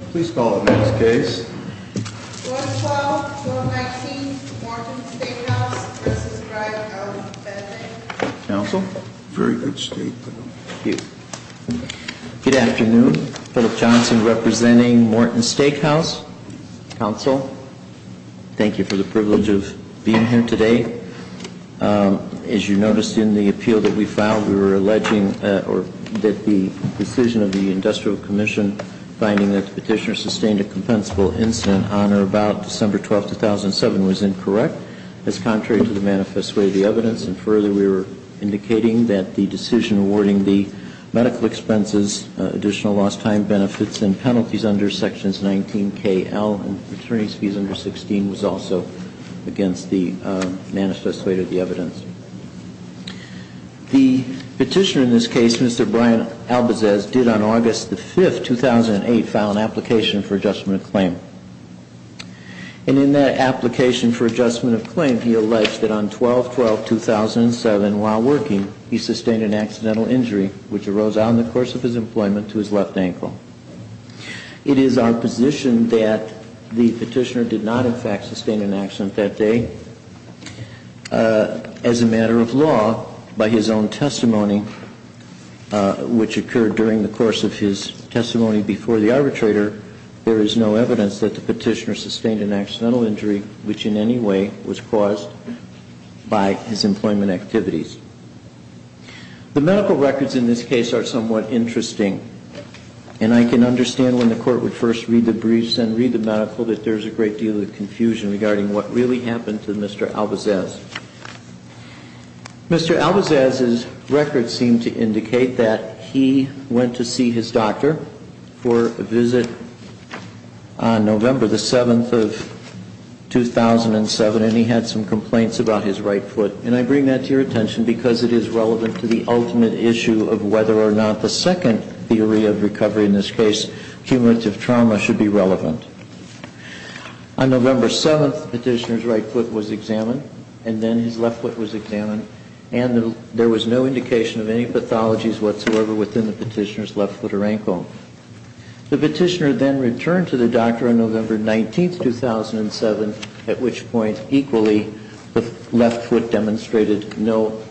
Please call the next case. 112-119 Morton's Steakhouse v. Dryden, Alabama. Counsel. Very good statement. Thank you. Good afternoon. Philip Johnson representing Morton's Steakhouse. Counsel. Thank you for the privilege of being here today. As you noticed in the appeal that we filed, we were alleging that the decision of the Industrial Commission finding that the petitioner sustained a compensable incident on or about December 12, 2007 was incorrect as contrary to the manifest way of the evidence. And further, we were indicating that the decision awarding the medical expenses, additional lost time benefits and penalties under sections 19KL and returning fees under 16 was also against the manifest way of the evidence. The petitioner in this case, Mr. Brian Albizez, did on August the 5th, 2008, file an application for adjustment of claim. And in that application for adjustment of claim, he alleged that on 12-12-2007 while working, he sustained an accidental injury which arose out in the course of his employment to his left ankle. It is our position that the petitioner did not in fact sustain an accident that day. As a matter of law, by his own testimony, which occurred during the course of his testimony before the arbitrator, there is no evidence that the petitioner sustained an accidental injury which in any way was caused by his employment activities. The medical records in this case are somewhat interesting. And I can understand when the Court would first read the briefs and read the medical that there is a great deal of confusion regarding what really happened to Mr. Albizez. Mr. Albizez's records seem to indicate that he went to see his doctor for a visit on November the 7th of 2007 and he had some complaints about his right foot. And I bring that to your attention because it is relevant to the ultimate issue of whether or not the second theory of recovery in this case, cumulative trauma, should be relevant. On November 7th, the petitioner's right foot was examined and then his left foot was examined and there was no indication of any pathologies whatsoever within the petitioner's left foot or ankle. The petitioner then returned to the doctor on November 19th, 2007, at which point equally the left foot demonstrated no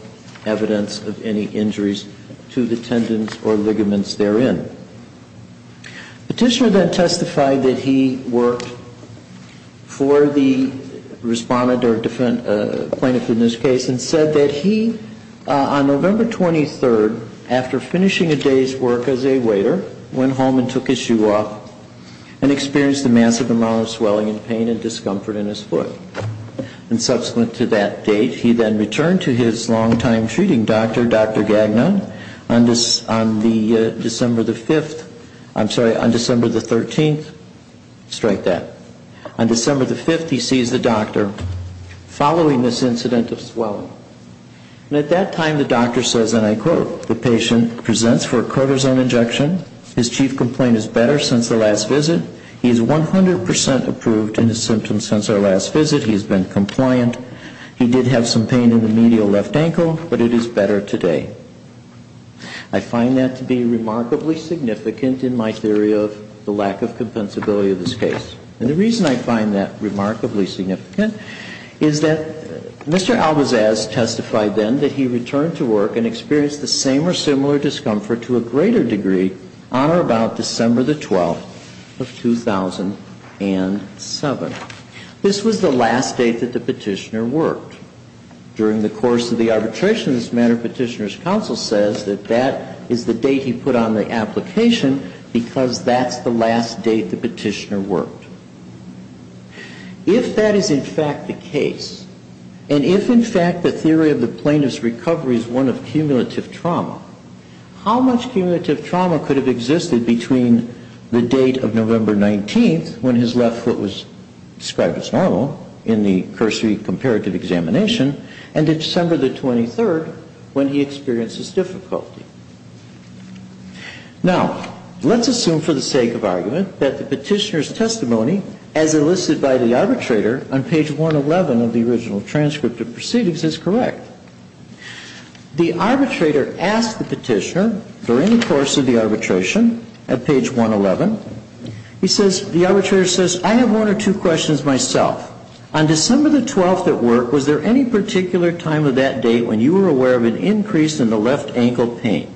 evidence of any injuries to the tendons or ligaments therein. The petitioner then testified that he worked for the respondent or plaintiff in this case and said that he, on November 23rd, after finishing a day's work as a waiter, went home and took his shoe off and experienced a massive amount of swelling and pain and discomfort in his foot. And subsequent to that date, he then returned to his longtime treating doctor, Dr. Gagnon, on December the 5th, I'm sorry, on December the 13th, strike that. On December the 5th, he sees the doctor following this incident of swelling. And at that time, the doctor says, and I quote, the patient presents for a cortisone injection. His chief complaint is better since the last visit. He is 100% approved in his symptoms since our last visit. He has been compliant. He did have some pain in the medial left ankle, but it is better today. I find that to be remarkably significant in my theory of the lack of compensability of this case. And the reason I find that remarkably significant is that Mr. Albizaz testified then that he returned to work and experienced the same or similar discomfort to a greater degree on or about December the 12th of 2007. This was the last date that the petitioner worked. During the course of the arbitration in this matter, petitioner's counsel says that that is the date he put on the application because that's the last date the petitioner worked. If that is in fact the case, and if in fact the theory of the plaintiff's recovery is one of cumulative trauma, how much cumulative trauma could have existed between the date of November 19th, when his left foot was described as normal in the cursory comparative examination, and December the 23rd, when he experienced this difficulty? Now, let's assume for the sake of argument that the petitioner's testimony, as enlisted by the arbitrator on page 111 of the original transcript of proceedings, is correct. The arbitrator asks the petitioner, during the course of the arbitration at page 111, he says, the arbitrator says, I have one or two questions myself. On December the 12th at work, was there any particular time of that date when you were aware of an increase in the left ankle pain?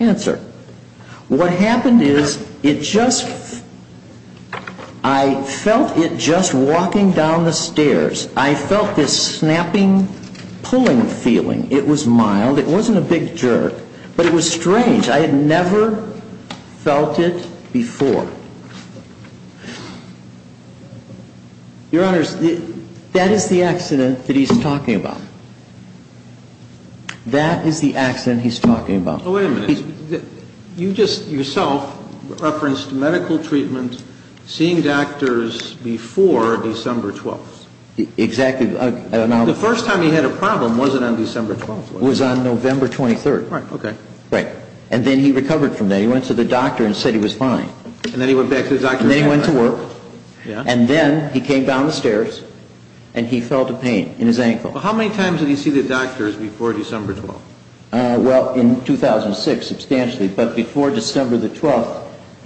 Answer. What happened is it just, I felt it just walking down the stairs. I felt this snapping, pulling feeling. It was mild. It wasn't a big jerk. But it was strange. I had never felt it before. Your Honors, that is the accident that he's talking about. That is the accident he's talking about. Oh, wait a minute. You just yourself referenced medical treatment, seeing doctors before December 12th. Exactly. The first time he had a problem wasn't on December 12th, was it? It was on November 23rd. Right. Okay. Right. And then he recovered from that. He went to the doctor and said he was fine. And then he went back to the doctor. And then he went to work. Yeah. And then he came down the stairs and he felt a pain in his ankle. How many times did he see the doctors before December 12th? Well, in 2006 substantially. But before December 12th,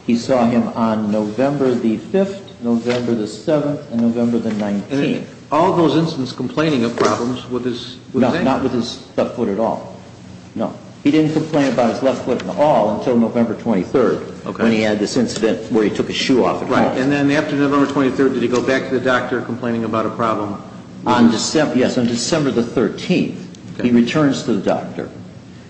he saw him on November 5th, November 7th, and November 19th. All those incidents complaining of problems with his ankle? No, not with his left foot at all. No. He didn't complain about his left foot at all until November 23rd when he had this incident where he took his shoe off. Right. And then after November 23rd, did he go back to the doctor complaining about a problem? Yes. Well, it's on December the 13th he returns to the doctor.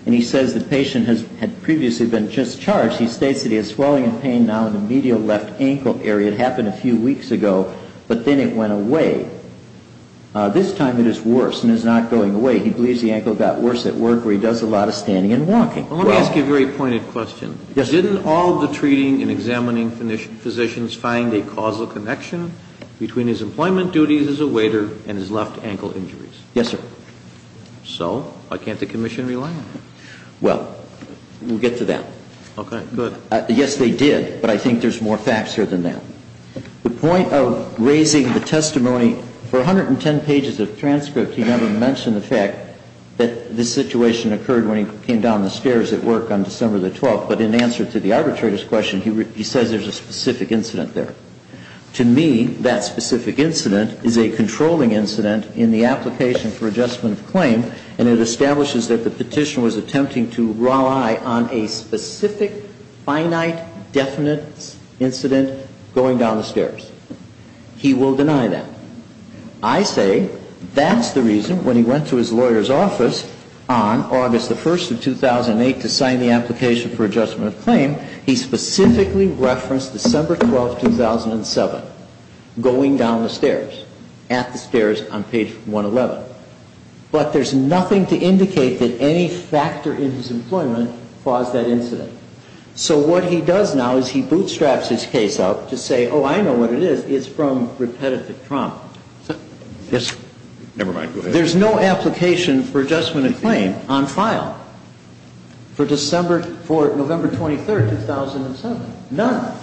And he says the patient had previously been discharged. He states that he has swelling and pain now in the medial left ankle area. It happened a few weeks ago. But then it went away. This time it is worse and is not going away. He believes the ankle got worse at work where he does a lot of standing and walking. Well, let me ask you a very pointed question. Yes. Can all the treating and examining physicians find a causal connection between his employment duties as a waiter and his left ankle injuries? Yes, sir. So why can't the commission rely on them? Well, we'll get to that. Okay. Good. Yes, they did. But I think there's more facts here than that. The point of raising the testimony for 110 pages of transcript, he never mentioned the fact that this situation occurred when he came down the stairs at work on December the 12th. But in answer to the arbitrator's question, he says there's a specific incident there. To me, that specific incident is a controlling incident in the application for adjustment of claim. And it establishes that the petitioner was attempting to rely on a specific, finite, definite incident going down the stairs. He will deny that. I say that's the reason when he went to his lawyer's office on August the 1st of 2008 to sign the application for adjustment of claim, he specifically referenced December 12th, 2007, going down the stairs, at the stairs on page 111. But there's nothing to indicate that any factor in his employment caused that incident. So what he does now is he bootstraps his case up to say, oh, I know what it is. It's from repetitive trauma. Never mind. Go ahead. There's no application for adjustment of claim on file for November 23rd, 2007. None.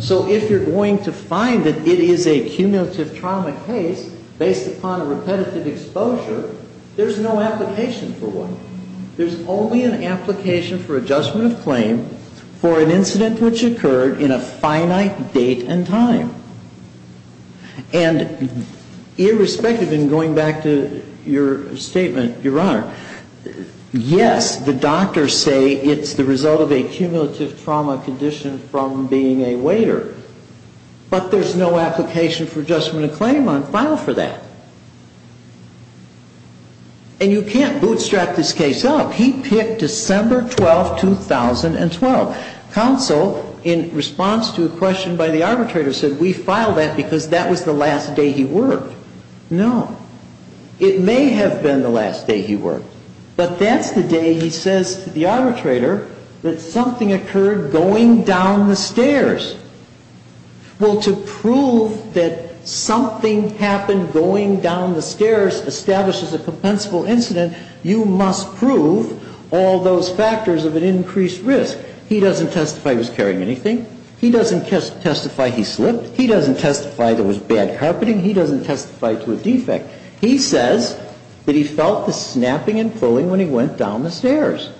So if you're going to find that it is a cumulative trauma case based upon repetitive exposure, there's no application for one. There's only an application for adjustment of claim for an incident which occurred in a finite date and time. And irrespective in going back to your statement, Your Honor, yes, the doctors say it's the result of a cumulative trauma condition from being a waiter. But there's no application for adjustment of claim on file for that. And you can't bootstrap this case up. He picked December 12th, 2012. Counsel, in response to a question by the arbitrator, said we filed that because that was the last day he worked. No. It may have been the last day he worked. But that's the day, he says to the arbitrator, that something occurred going down the stairs. Well, to prove that something happened going down the stairs establishes a compensable incident, you must prove all those factors of an increased risk. He doesn't testify he was carrying anything. He doesn't testify he slipped. He doesn't testify there was bad carpeting. He doesn't testify to a defect. He says that he felt the snapping and pulling when he went down the stairs.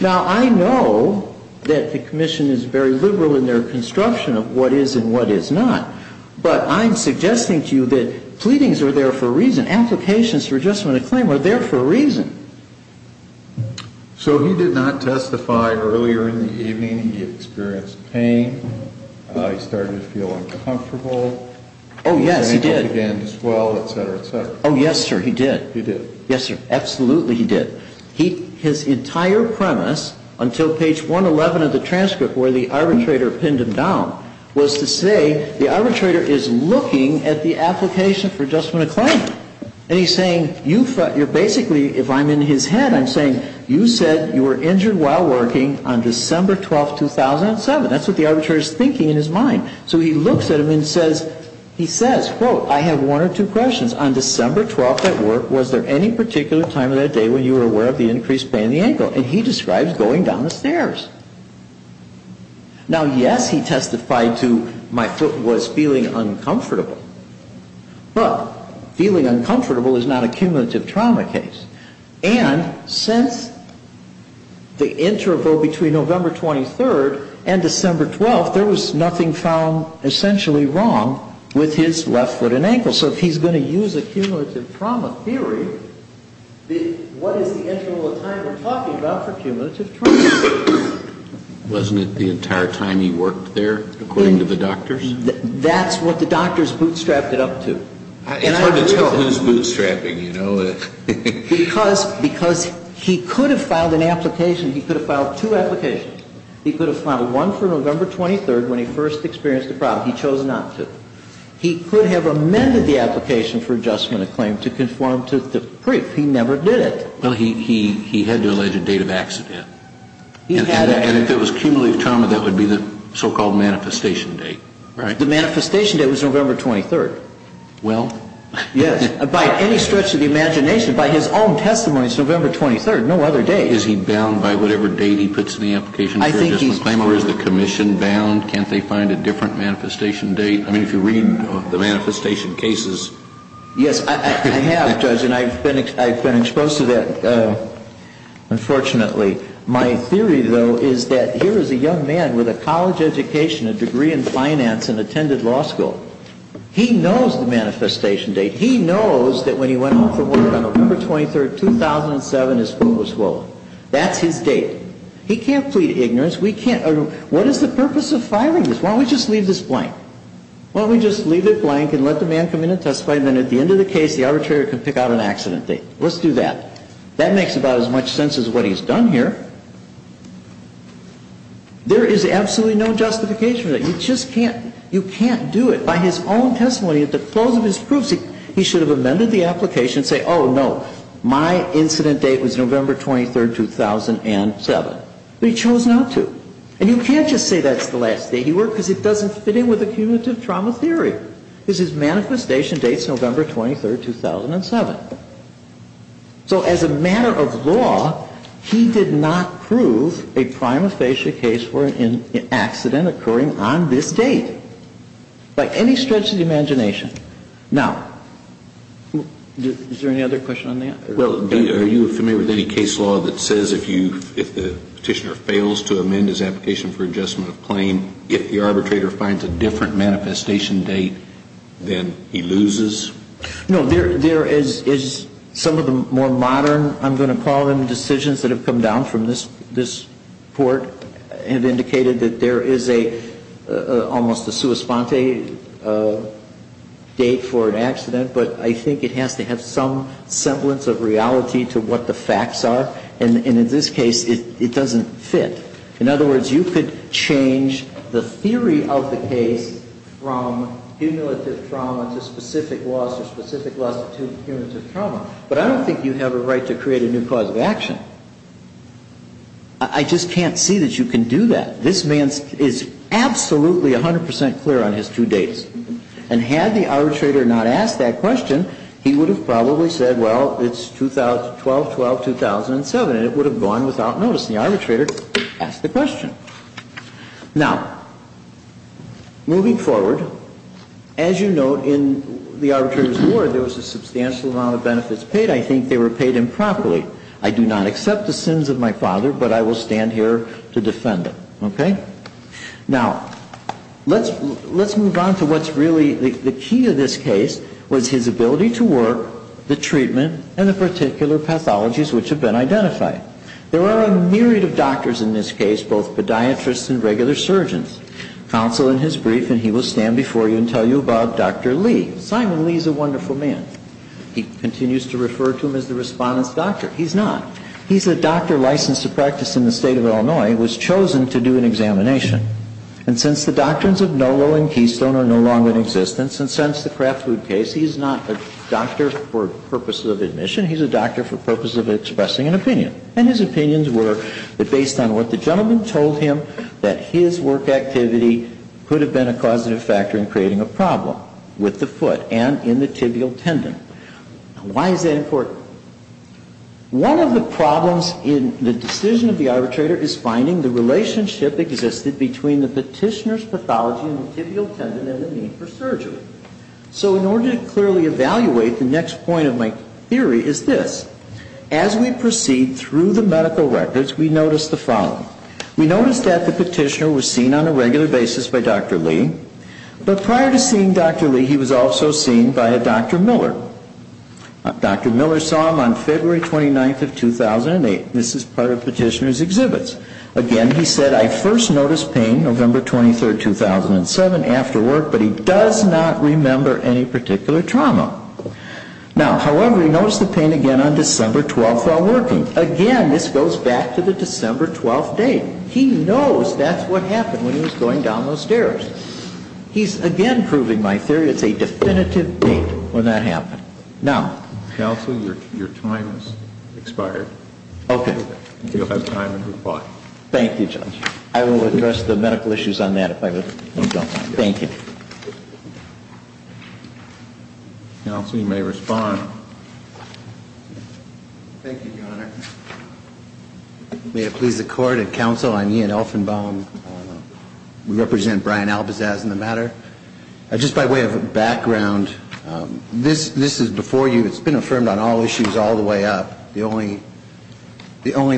Now, I know that the commission is very liberal in their construction of what is and what is not. But I'm suggesting to you that pleadings are there for a reason. Applications for adjustment of claim are there for a reason. So he did not testify earlier in the evening. He experienced pain. He started to feel uncomfortable. Oh, yes, he did. His ankle began to swell, et cetera, et cetera. Oh, yes, sir, he did. He did. Yes, sir, absolutely he did. His entire premise until page 111 of the transcript where the arbitrator pinned him down was to say the arbitrator is looking at the application for adjustment of claim. And he's saying you're basically, if I'm in his head, I'm saying you said you were injured while working on December 12, 2007. That's what the arbitrator is thinking in his mind. So he looks at him and says, he says, quote, I have one or two questions. On December 12th at work, was there any particular time of that day when you were aware of the increased pain in the ankle? And he describes going down the stairs. Now, yes, he testified to my foot was feeling uncomfortable. But feeling uncomfortable is not a cumulative trauma case. And since the interval between November 23rd and December 12th, there was nothing found essentially wrong with his left foot and ankle. So if he's going to use a cumulative trauma theory, what is the interval of time we're talking about for cumulative trauma? Wasn't it the entire time he worked there according to the doctors? That's what the doctors bootstrapped it up to. It's hard to tell who's bootstrapping, you know. Because he could have filed an application. He could have filed two applications. He could have filed one for November 23rd when he first experienced the problem. He chose not to. He could have amended the application for adjustment of claim to conform to the brief. He never did it. Well, he had to allege a date of accident. And if it was cumulative trauma, that would be the so-called manifestation date. Right. The manifestation date was November 23rd. Well. Yes. By any stretch of the imagination, by his own testimony, it's November 23rd, no other date. Is he bound by whatever date he puts in the application for adjustment of claim? I think he's bound. Or is the commission bound? Can't they find a different manifestation date? I mean, if you read the manifestation cases. Yes, I have, Judge, and I've been exposed to that, unfortunately. My theory, though, is that here is a young man with a college education, a degree in finance, and attended law school. He knows the manifestation date. He knows that when he went off to work on November 23rd, 2007, his foot was swollen. That's his date. He can't plead ignorance. What is the purpose of filing this? Why don't we just leave this blank? Why don't we just leave it blank and let the man come in and testify, and then at the end of the case, the arbitrator can pick out an accident date? Let's do that. That makes about as much sense as what he's done here. There is absolutely no justification for that. You just can't. You can't do it. By his own testimony, at the close of his proofs, he should have amended the application and say, oh, no, my incident date was November 23rd, 2007. But he chose not to. And you can't just say that's the last date. It doesn't fit in with the cumulative trauma theory. His manifestation date is November 23rd, 2007. So as a matter of law, he did not prove a prima facie case for an accident occurring on this date. By any stretch of the imagination. Now, is there any other question on that? Well, are you familiar with any case law that says if the petitioner fails to amend his application for adjustment of claim, if the arbitrator finds a different manifestation date, then he loses? No. There is some of the more modern, I'm going to call them, decisions that have come down from this court have indicated that there is almost a sua sponte date for an accident. But I think it has to have some semblance of reality to what the facts are. And in this case, it doesn't fit. In other words, you could change the theory of the case from cumulative trauma to specific loss or specific loss to cumulative trauma. But I don't think you have a right to create a new cause of action. I just can't see that you can do that. This man is absolutely 100% clear on his two dates. And had the arbitrator not asked that question, he would have probably said, well, it's 2012-2007, and it would have gone without notice. The arbitrator asked the question. Now, moving forward, as you note in the arbitrator's ward, there was a substantial amount of benefits paid. I think they were paid improperly. I do not accept the sins of my father, but I will stand here to defend him. Now, let's move on to what's really the key of this case was his ability to work, the treatment, and the particular pathologies which have been identified. There are a myriad of doctors in this case, both podiatrists and regular surgeons. Counsel in his brief, and he will stand before you and tell you about Dr. Lee. Simon Lee is a wonderful man. He continues to refer to him as the respondent's doctor. He's not. He's a doctor licensed to practice in the state of Illinois. He was chosen to do an examination. And since the doctrines of Nolo and Keystone are no longer in existence, and since the Kraft Food case, he's not a doctor for purposes of admission. He's a doctor for purposes of expressing an opinion. And his opinions were that based on what the gentleman told him, that his work activity could have been a causative factor in creating a problem with the foot and in the tibial tendon. Why is that important? One of the problems in the decision of the arbitrator is finding the relationship existed between the petitioner's pathology and the tibial tendon and the need for surgery. So in order to clearly evaluate, the next point of my theory is this. As we proceed through the medical records, we notice the following. We notice that the petitioner was seen on a regular basis by Dr. Lee. But prior to seeing Dr. Lee, he was also seen by a Dr. Miller. Dr. Miller saw him on February 29th of 2008. This is part of petitioner's exhibits. Again, he said, I first noticed pain November 23rd, 2007, after work. But he does not remember any particular trauma. Now, however, he noticed the pain again on December 12th while working. Again, this goes back to the December 12th date. He knows that's what happened when he was going down those stairs. He's again proving my theory it's a definitive date when that happened. Now. Counsel, your time has expired. Okay. You'll have time to reply. Thank you, Judge. I will address the medical issues on that if I was on time. Thank you. Counsel, you may respond. Thank you, Your Honor. May it please the Court and Counsel, I'm Ian Elfenbaum. We represent Brian Albizaz in the matter. Just by way of background, this is before you. It's been affirmed on all issues all the way up. The only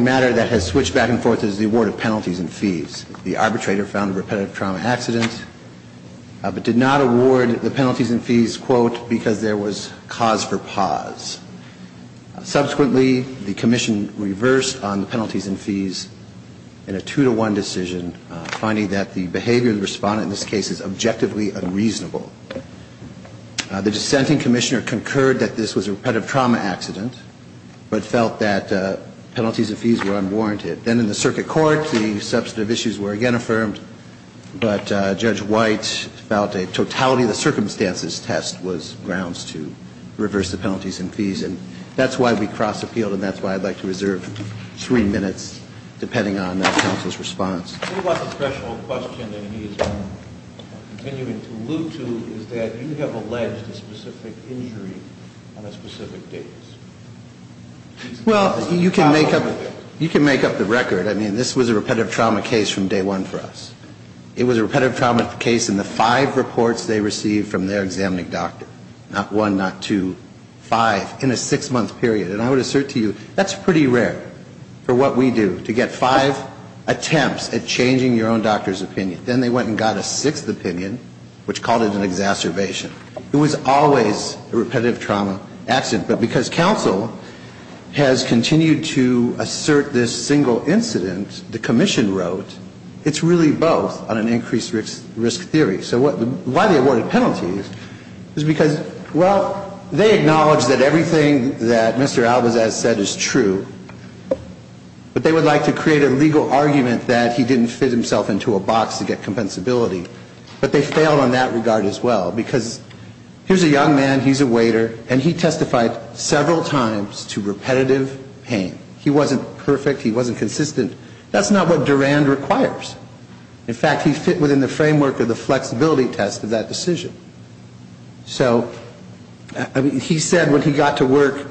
matter that has switched back and forth is the award of penalties and fees. The arbitrator found a repetitive trauma accident but did not award the penalties and fees, quote, because there was cause for pause. Subsequently, the commission reversed on the penalties and fees in a two-to-one decision, finding that the behavior of the respondent in this case is objectively unreasonable. The dissenting commissioner concurred that this was a repetitive trauma accident but felt that penalties and fees were unwarranted. Then in the circuit court, the substantive issues were again affirmed, but Judge White felt a totality of the circumstances test was grounds to reverse the penalties and fees, and that's why we cross-appealed, and that's why I'd like to reserve three minutes, depending on the counsel's response. What about the special question that he is continuing to allude to is that you have alleged a specific injury on a specific date. Well, you can make up the record. I mean, this was a repetitive trauma case from day one for us. It was a repetitive trauma case in the five reports they received from their examining doctor, not one, not two, five, in a six-month period. And I would assert to you that's pretty rare for what we do, to get five attempts at changing your own doctor's opinion. Then they went and got a sixth opinion, which called it an exacerbation. It was always a repetitive trauma accident. But because counsel has continued to assert this single incident, the commission wrote, it's really both on an increased risk theory. So why they awarded penalties is because, well, they acknowledge that everything that Mr. Albazaz said is true, but they would like to create a legal argument that he didn't fit himself into a box to get compensability. But they failed on that regard as well, because here's a young man, he's a waiter, and he testified several times to repetitive pain. He wasn't perfect, he wasn't consistent. That's not what Durand requires. In fact, he fit within the framework of the flexibility test of that decision. So he said when he got to work,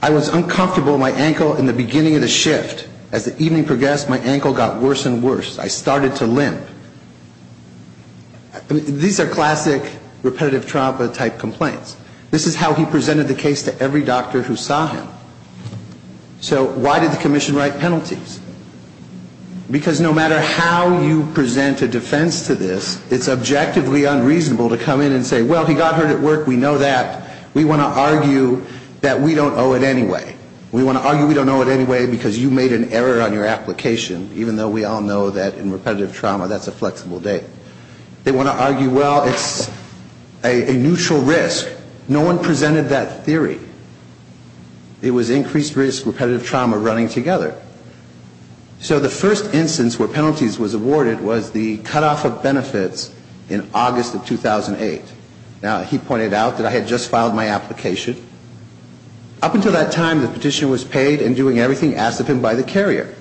I was uncomfortable in my ankle in the beginning of the shift. As the evening progressed, my ankle got worse and worse. I started to limp. These are classic repetitive trauma type complaints. This is how he presented the case to every doctor who saw him. So why did the commission write penalties? Because no matter how you present a defense to this, it's objectively unreasonable to come in and say, well, he got hurt at work, we know that. We want to argue that we don't owe it anyway. We want to argue we don't owe it anyway because you made an error on your application, even though we all know that in repetitive trauma that's a flexible date. They want to argue, well, it's a neutral risk. No one presented that theory. It was increased risk, repetitive trauma running together. So the first instance where penalties was awarded was the cutoff of benefits in August of 2008. Now, he pointed out that I had just filed my application. Up until that time, the petitioner was paid and doing everything asked of him by the carrier.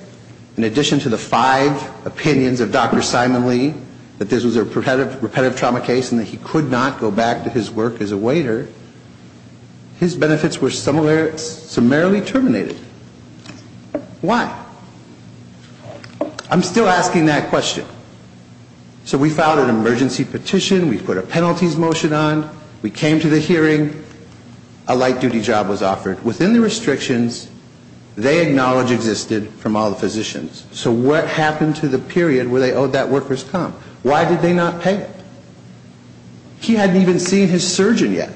In addition to the five opinions of Dr. Simon-Lee that this was a repetitive trauma case and that he could not go back to his work as a waiter, his benefits were summarily terminated. Why? I'm still asking that question. So we filed an emergency petition. We put a penalties motion on. We came to the hearing. A light-duty job was offered. Within the restrictions, they acknowledge existed from all the physicians. So what happened to the period where they owed that worker's comp? Why did they not pay? He hadn't even seen his surgeon yet.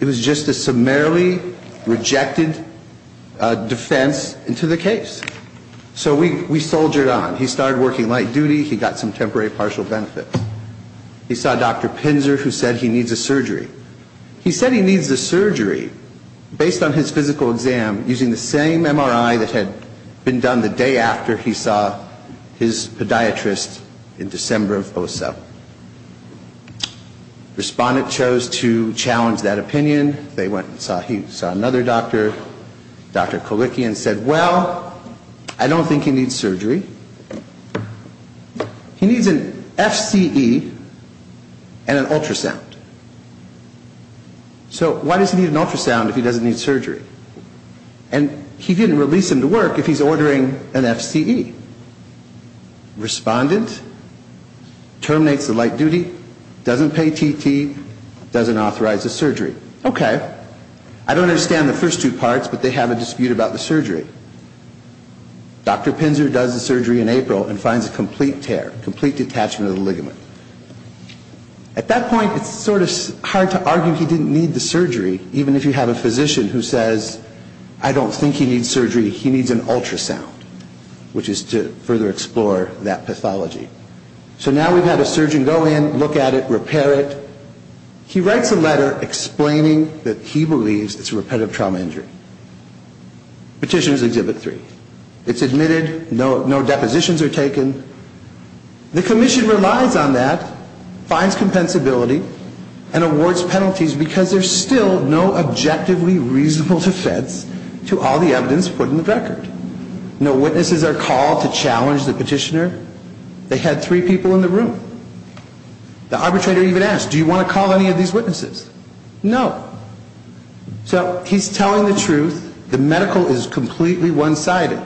It was just a summarily rejected defense into the case. So we soldiered on. He started working light duty. He got some temporary partial benefits. He saw Dr. Pinzer, who said he needs a surgery. He said he needs a surgery based on his physical exam, using the same MRI that had been done the day after he saw his podiatrist in December of 2007. Respondent chose to challenge that opinion. They went and saw him. He saw another doctor, Dr. Kalicki, and said, Well, I don't think he needs surgery. He needs an FCE and an ultrasound. So why does he need an ultrasound if he doesn't need surgery? And he didn't release him to work if he's ordering an FCE. Respondent terminates the light duty, doesn't pay TT, doesn't authorize the surgery. Okay. I don't understand the first two parts, but they have a dispute about the surgery. Dr. Pinzer does the surgery in April and finds a complete tear, complete detachment of the ligament. At that point, it's sort of hard to argue he didn't need the surgery, even if you have a physician who says, I don't think he needs surgery. He needs an ultrasound, which is to further explore that pathology. So now we've had a surgeon go in, look at it, repair it. He writes a letter explaining that he believes it's a repetitive trauma injury. Petitioners exhibit three. It's admitted. No depositions are taken. The commission relies on that, finds compensability, and awards penalties because there's still no objectively reasonable defense to all the evidence put in the record. No witnesses are called to challenge the petitioner. They had three people in the room. The arbitrator even asked, do you want to call any of these witnesses? No. So he's telling the truth. The medical is completely one-sided.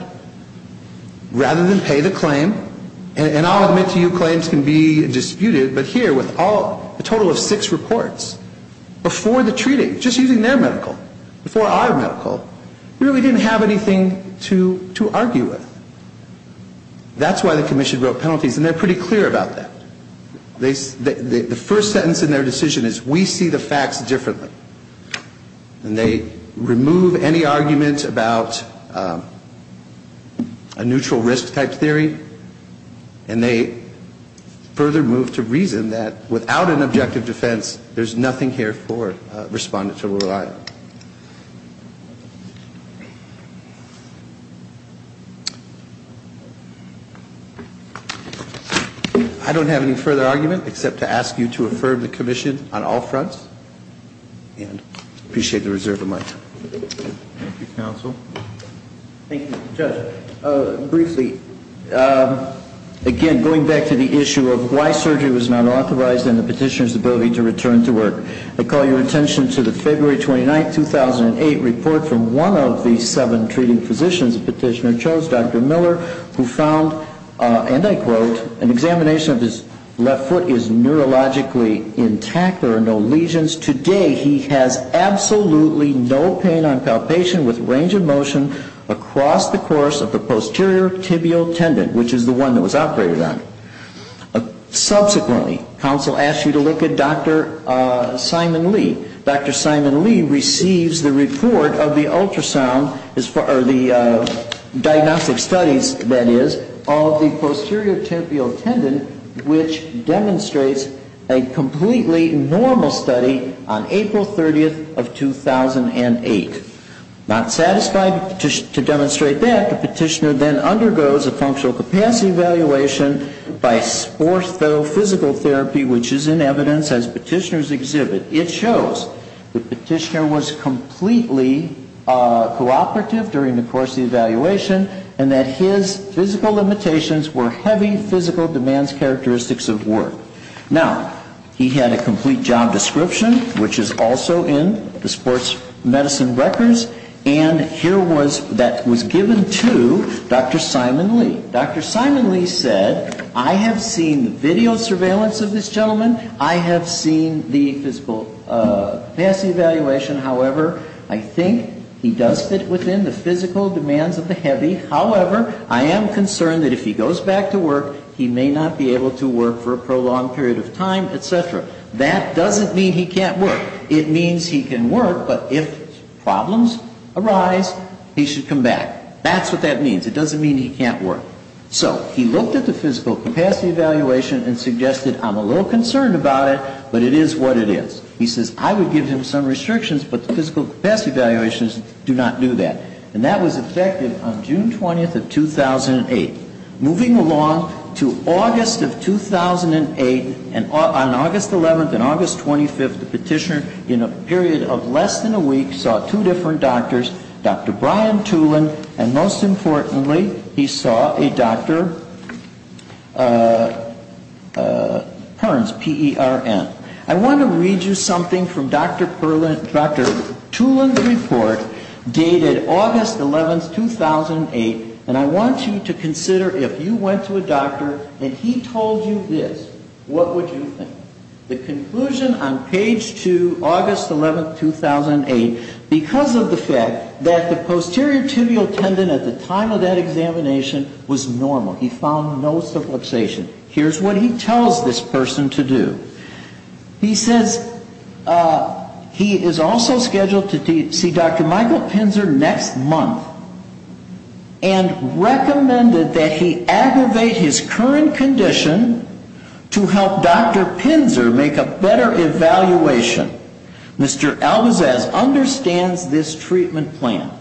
Rather than pay the claim, and I'll admit to you claims can be disputed, but here with a total of six reports, before the treating, just using their medical, before our medical, really didn't have anything to argue with. That's why the commission wrote penalties, and they're pretty clear about that. The first sentence in their decision is, we see the facts differently. And they remove any argument about a neutral risk type theory, and they further move to reason that without an objective defense, there's nothing here for a respondent to rely on. I don't have any further argument, except to ask you to affirm the commission on all fronts, and I appreciate the reserve of my time. Thank you, counsel. Thank you, Judge. Briefly, again, going back to the issue of why surgery was not authorized and the petitioner's ability to return to work, I call your attention to the February 29, 2008, report from one of the seven treating physicians the petitioner chose, Dr. Miller, who found, and I quote, an examination of his left foot is neurologically intact, there are no lesions. Today he has absolutely no pain on palpation with range of motion across the course of the posterior tibial tendon, which is the one that was operated on. Subsequently, counsel asks you to look at Dr. Simon Lee. Dr. Simon Lee receives the report of the ultrasound, or the diagnostic studies, that is, of the posterior tibial tendon, which demonstrates a completely normal study on April 30, 2008. Not satisfied to demonstrate that, the petitioner then undergoes a functional capacity evaluation by orthophysical therapy, which is in evidence as petitioners exhibit. It shows the petitioner was completely cooperative during the course of the evaluation and that his physical limitations were heavy physical demands characteristics of work. Now, he had a complete job description, which is also in the sports medicine records, and here was, that was given to Dr. Simon Lee. Dr. Simon Lee said, I have seen video surveillance of this gentleman, I have seen the physical capacity evaluation. However, I think he does fit within the physical demands of the heavy. However, I am concerned that if he goes back to work, he may not be able to work for a prolonged period of time, et cetera. That doesn't mean he can't work. It means he can work, but if problems arise, he should come back. That's what that means. It doesn't mean he can't work. So he looked at the physical capacity evaluation and suggested, I'm a little concerned about it, but it is what it is. He says, I would give him some restrictions, but the physical capacity evaluations do not do that. And that was effective on June 20th of 2008. Moving along to August of 2008, on August 11th and August 25th, the petitioner in a period of less than a week saw two different doctors, Dr. Brian Tulin, and most importantly, he saw a Dr. Perns, P-E-R-N. I want to read you something from Dr. Tulin's report dated August 11th, 2008, and I want you to consider if you went to a doctor and he told you this, what would you think? The conclusion on page 2, August 11th, 2008, because of the fact that the posterior tibial tendon at the time of that examination was normal. He found no subluxation. Here's what he tells this person to do. He says he is also scheduled to see Dr. Michael Pinzer next month and recommended that he aggravate his current condition to help Dr. Pinzer make a better evaluation. Mr. Albizaz understands this treatment plan.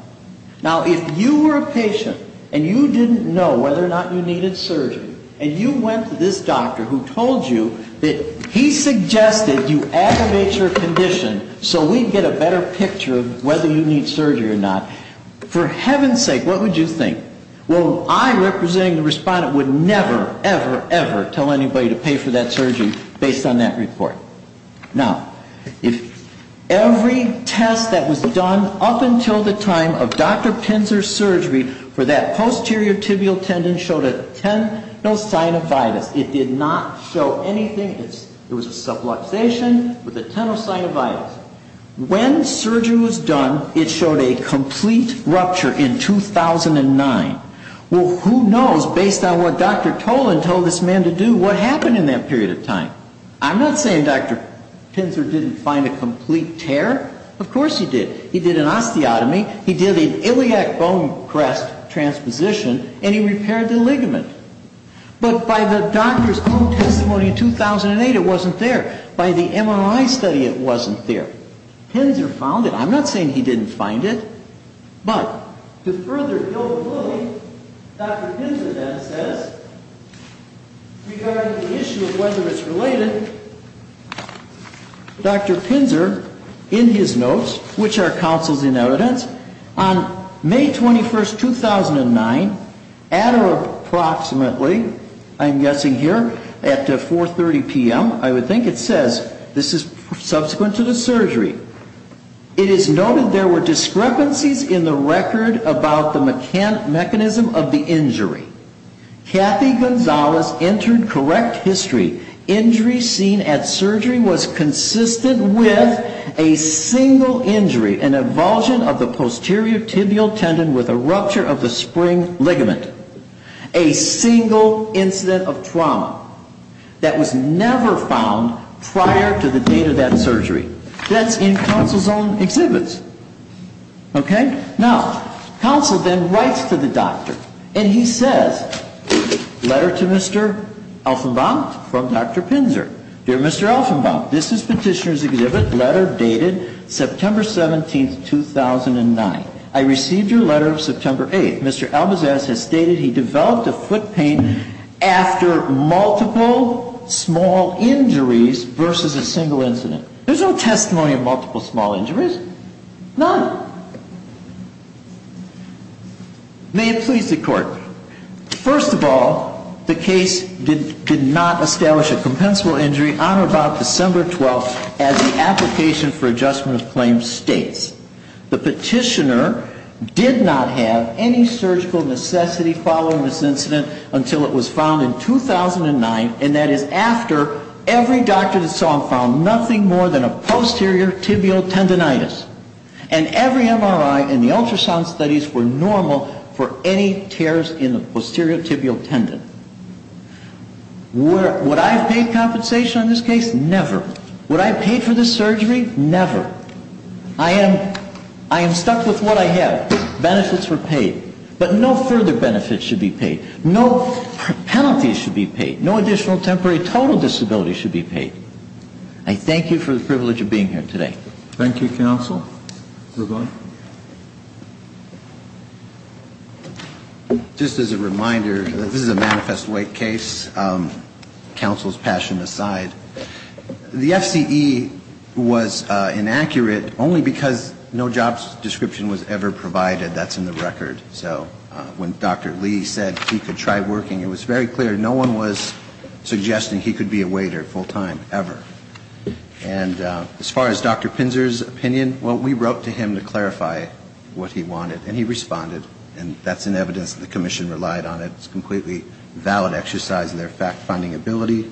Now, if you were a patient and you didn't know whether or not you needed surgery, and you went to this doctor who told you that he suggested you aggravate your condition so we'd get a better picture of whether you need surgery or not, for heaven's sake, what would you think? Well, I, representing the respondent, would never, ever, ever tell anybody to pay for that surgery based on that report. Now, if every test that was done up until the time of Dr. Pinzer's surgery for that posterior tibial tendon showed a tenosynovitis, it did not show anything, it was a subluxation with a tenosynovitis. When surgery was done, it showed a complete rupture in 2009. Well, who knows, based on what Dr. Tolan told this man to do, what happened in that period of time. I'm not saying Dr. Pinzer didn't find a complete tear. Of course he did. He did an osteotomy, he did an iliac bone crest transposition, and he repaired the ligament. But by the doctor's own testimony in 2008, it wasn't there. By the MRI study, it wasn't there. Pinzer found it. I'm not saying he didn't find it. But, to further build belief, Dr. Pinzer then says, regarding the issue of whether it's related, Dr. Pinzer, in his notes, which are counsels in evidence, on May 21st, 2009, at or approximately, I'm guessing here, at 4.30 p.m., I would think, it says, this is subsequent to the surgery, it is noted there were discrepancies in the record about the mechanism of the injury. Kathy Gonzalez entered correct history. Injury seen at surgery was consistent with a single injury, an avulsion of the posterior tibial tendon with a rupture of the spring ligament. A single incident of trauma. That was never found prior to the date of that surgery. That's in counsel's own exhibits. Okay? Now, counsel then writes to the doctor. And he says, letter to Mr. Elfenbaum from Dr. Pinzer. Dear Mr. Elfenbaum, this is petitioner's exhibit, letter dated September 17th, 2009. I received your letter September 8th. Mr. Elbazs has stated he developed a foot pain after multiple small injuries versus a single incident. There's no testimony of multiple small injuries. None. May it please the Court. First of all, the case did not establish a compensable injury on or about December 12th, as the application for adjustment of claim states. The petitioner did not have any surgical necessity following this incident until it was found in 2009, and that is after every doctor that saw him found nothing more than a posterior tibial tendonitis. And every MRI and the ultrasound studies were normal for any tears in the posterior tibial tendon. Would I have paid compensation on this case? Never. Would I have paid for this surgery? Never. I am stuck with what I have. Benefits were paid. But no further benefits should be paid. No penalties should be paid. No additional temporary total disability should be paid. I thank you for the privilege of being here today. Thank you, counsel. Mr. Blunt. Just as a reminder, this is a manifest weight case, counsel's passion aside. The FCE was inaccurate only because no job description was ever provided. That's in the record. So when Dr. Lee said he could try working, it was very clear no one was suggesting he could be a waiter full-time, ever. And as far as Dr. Pinzer's opinion, well, we wrote to him to clarify what he wanted, and he responded. And that's in evidence that the commission relied on. It's a completely valid exercise in their fact-finding ability.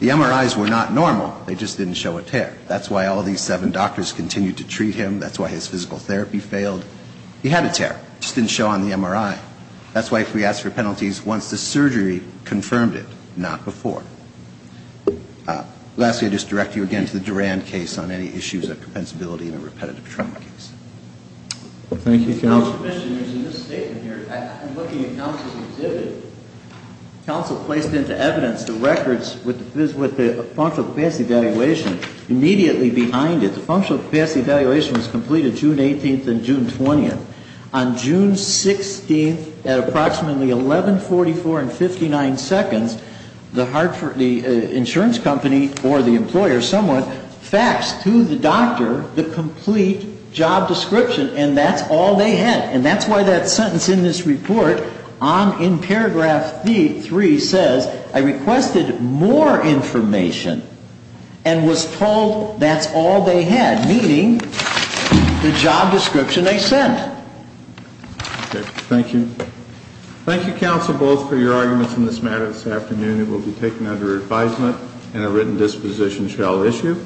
The MRIs were not normal. They just didn't show a tear. That's why all these seven doctors continued to treat him. That's why his physical therapy failed. He had a tear. It just didn't show on the MRI. That's why we asked for penalties once the surgery confirmed it, not before. Lastly, I just direct you again to the Durand case on any issues of compensability in a repetitive trauma case. Thank you, counsel. In this statement here, I'm looking at counsel's exhibit. Counsel placed into evidence the records with the functional capacity evaluation immediately behind it. The functional capacity evaluation was completed June 18th and June 20th. On June 16th, at approximately 11.44 and 59 seconds, the insurance company or the employer, someone, asked to the doctor the complete job description, and that's all they had. And that's why that sentence in this report, in paragraph 3, says, I requested more information and was told that's all they had, meaning the job description I sent. Okay. Thank you. Thank you, counsel, both, for your arguments in this matter this afternoon. This hearing will be taken under advisement and a written disposition shall issue.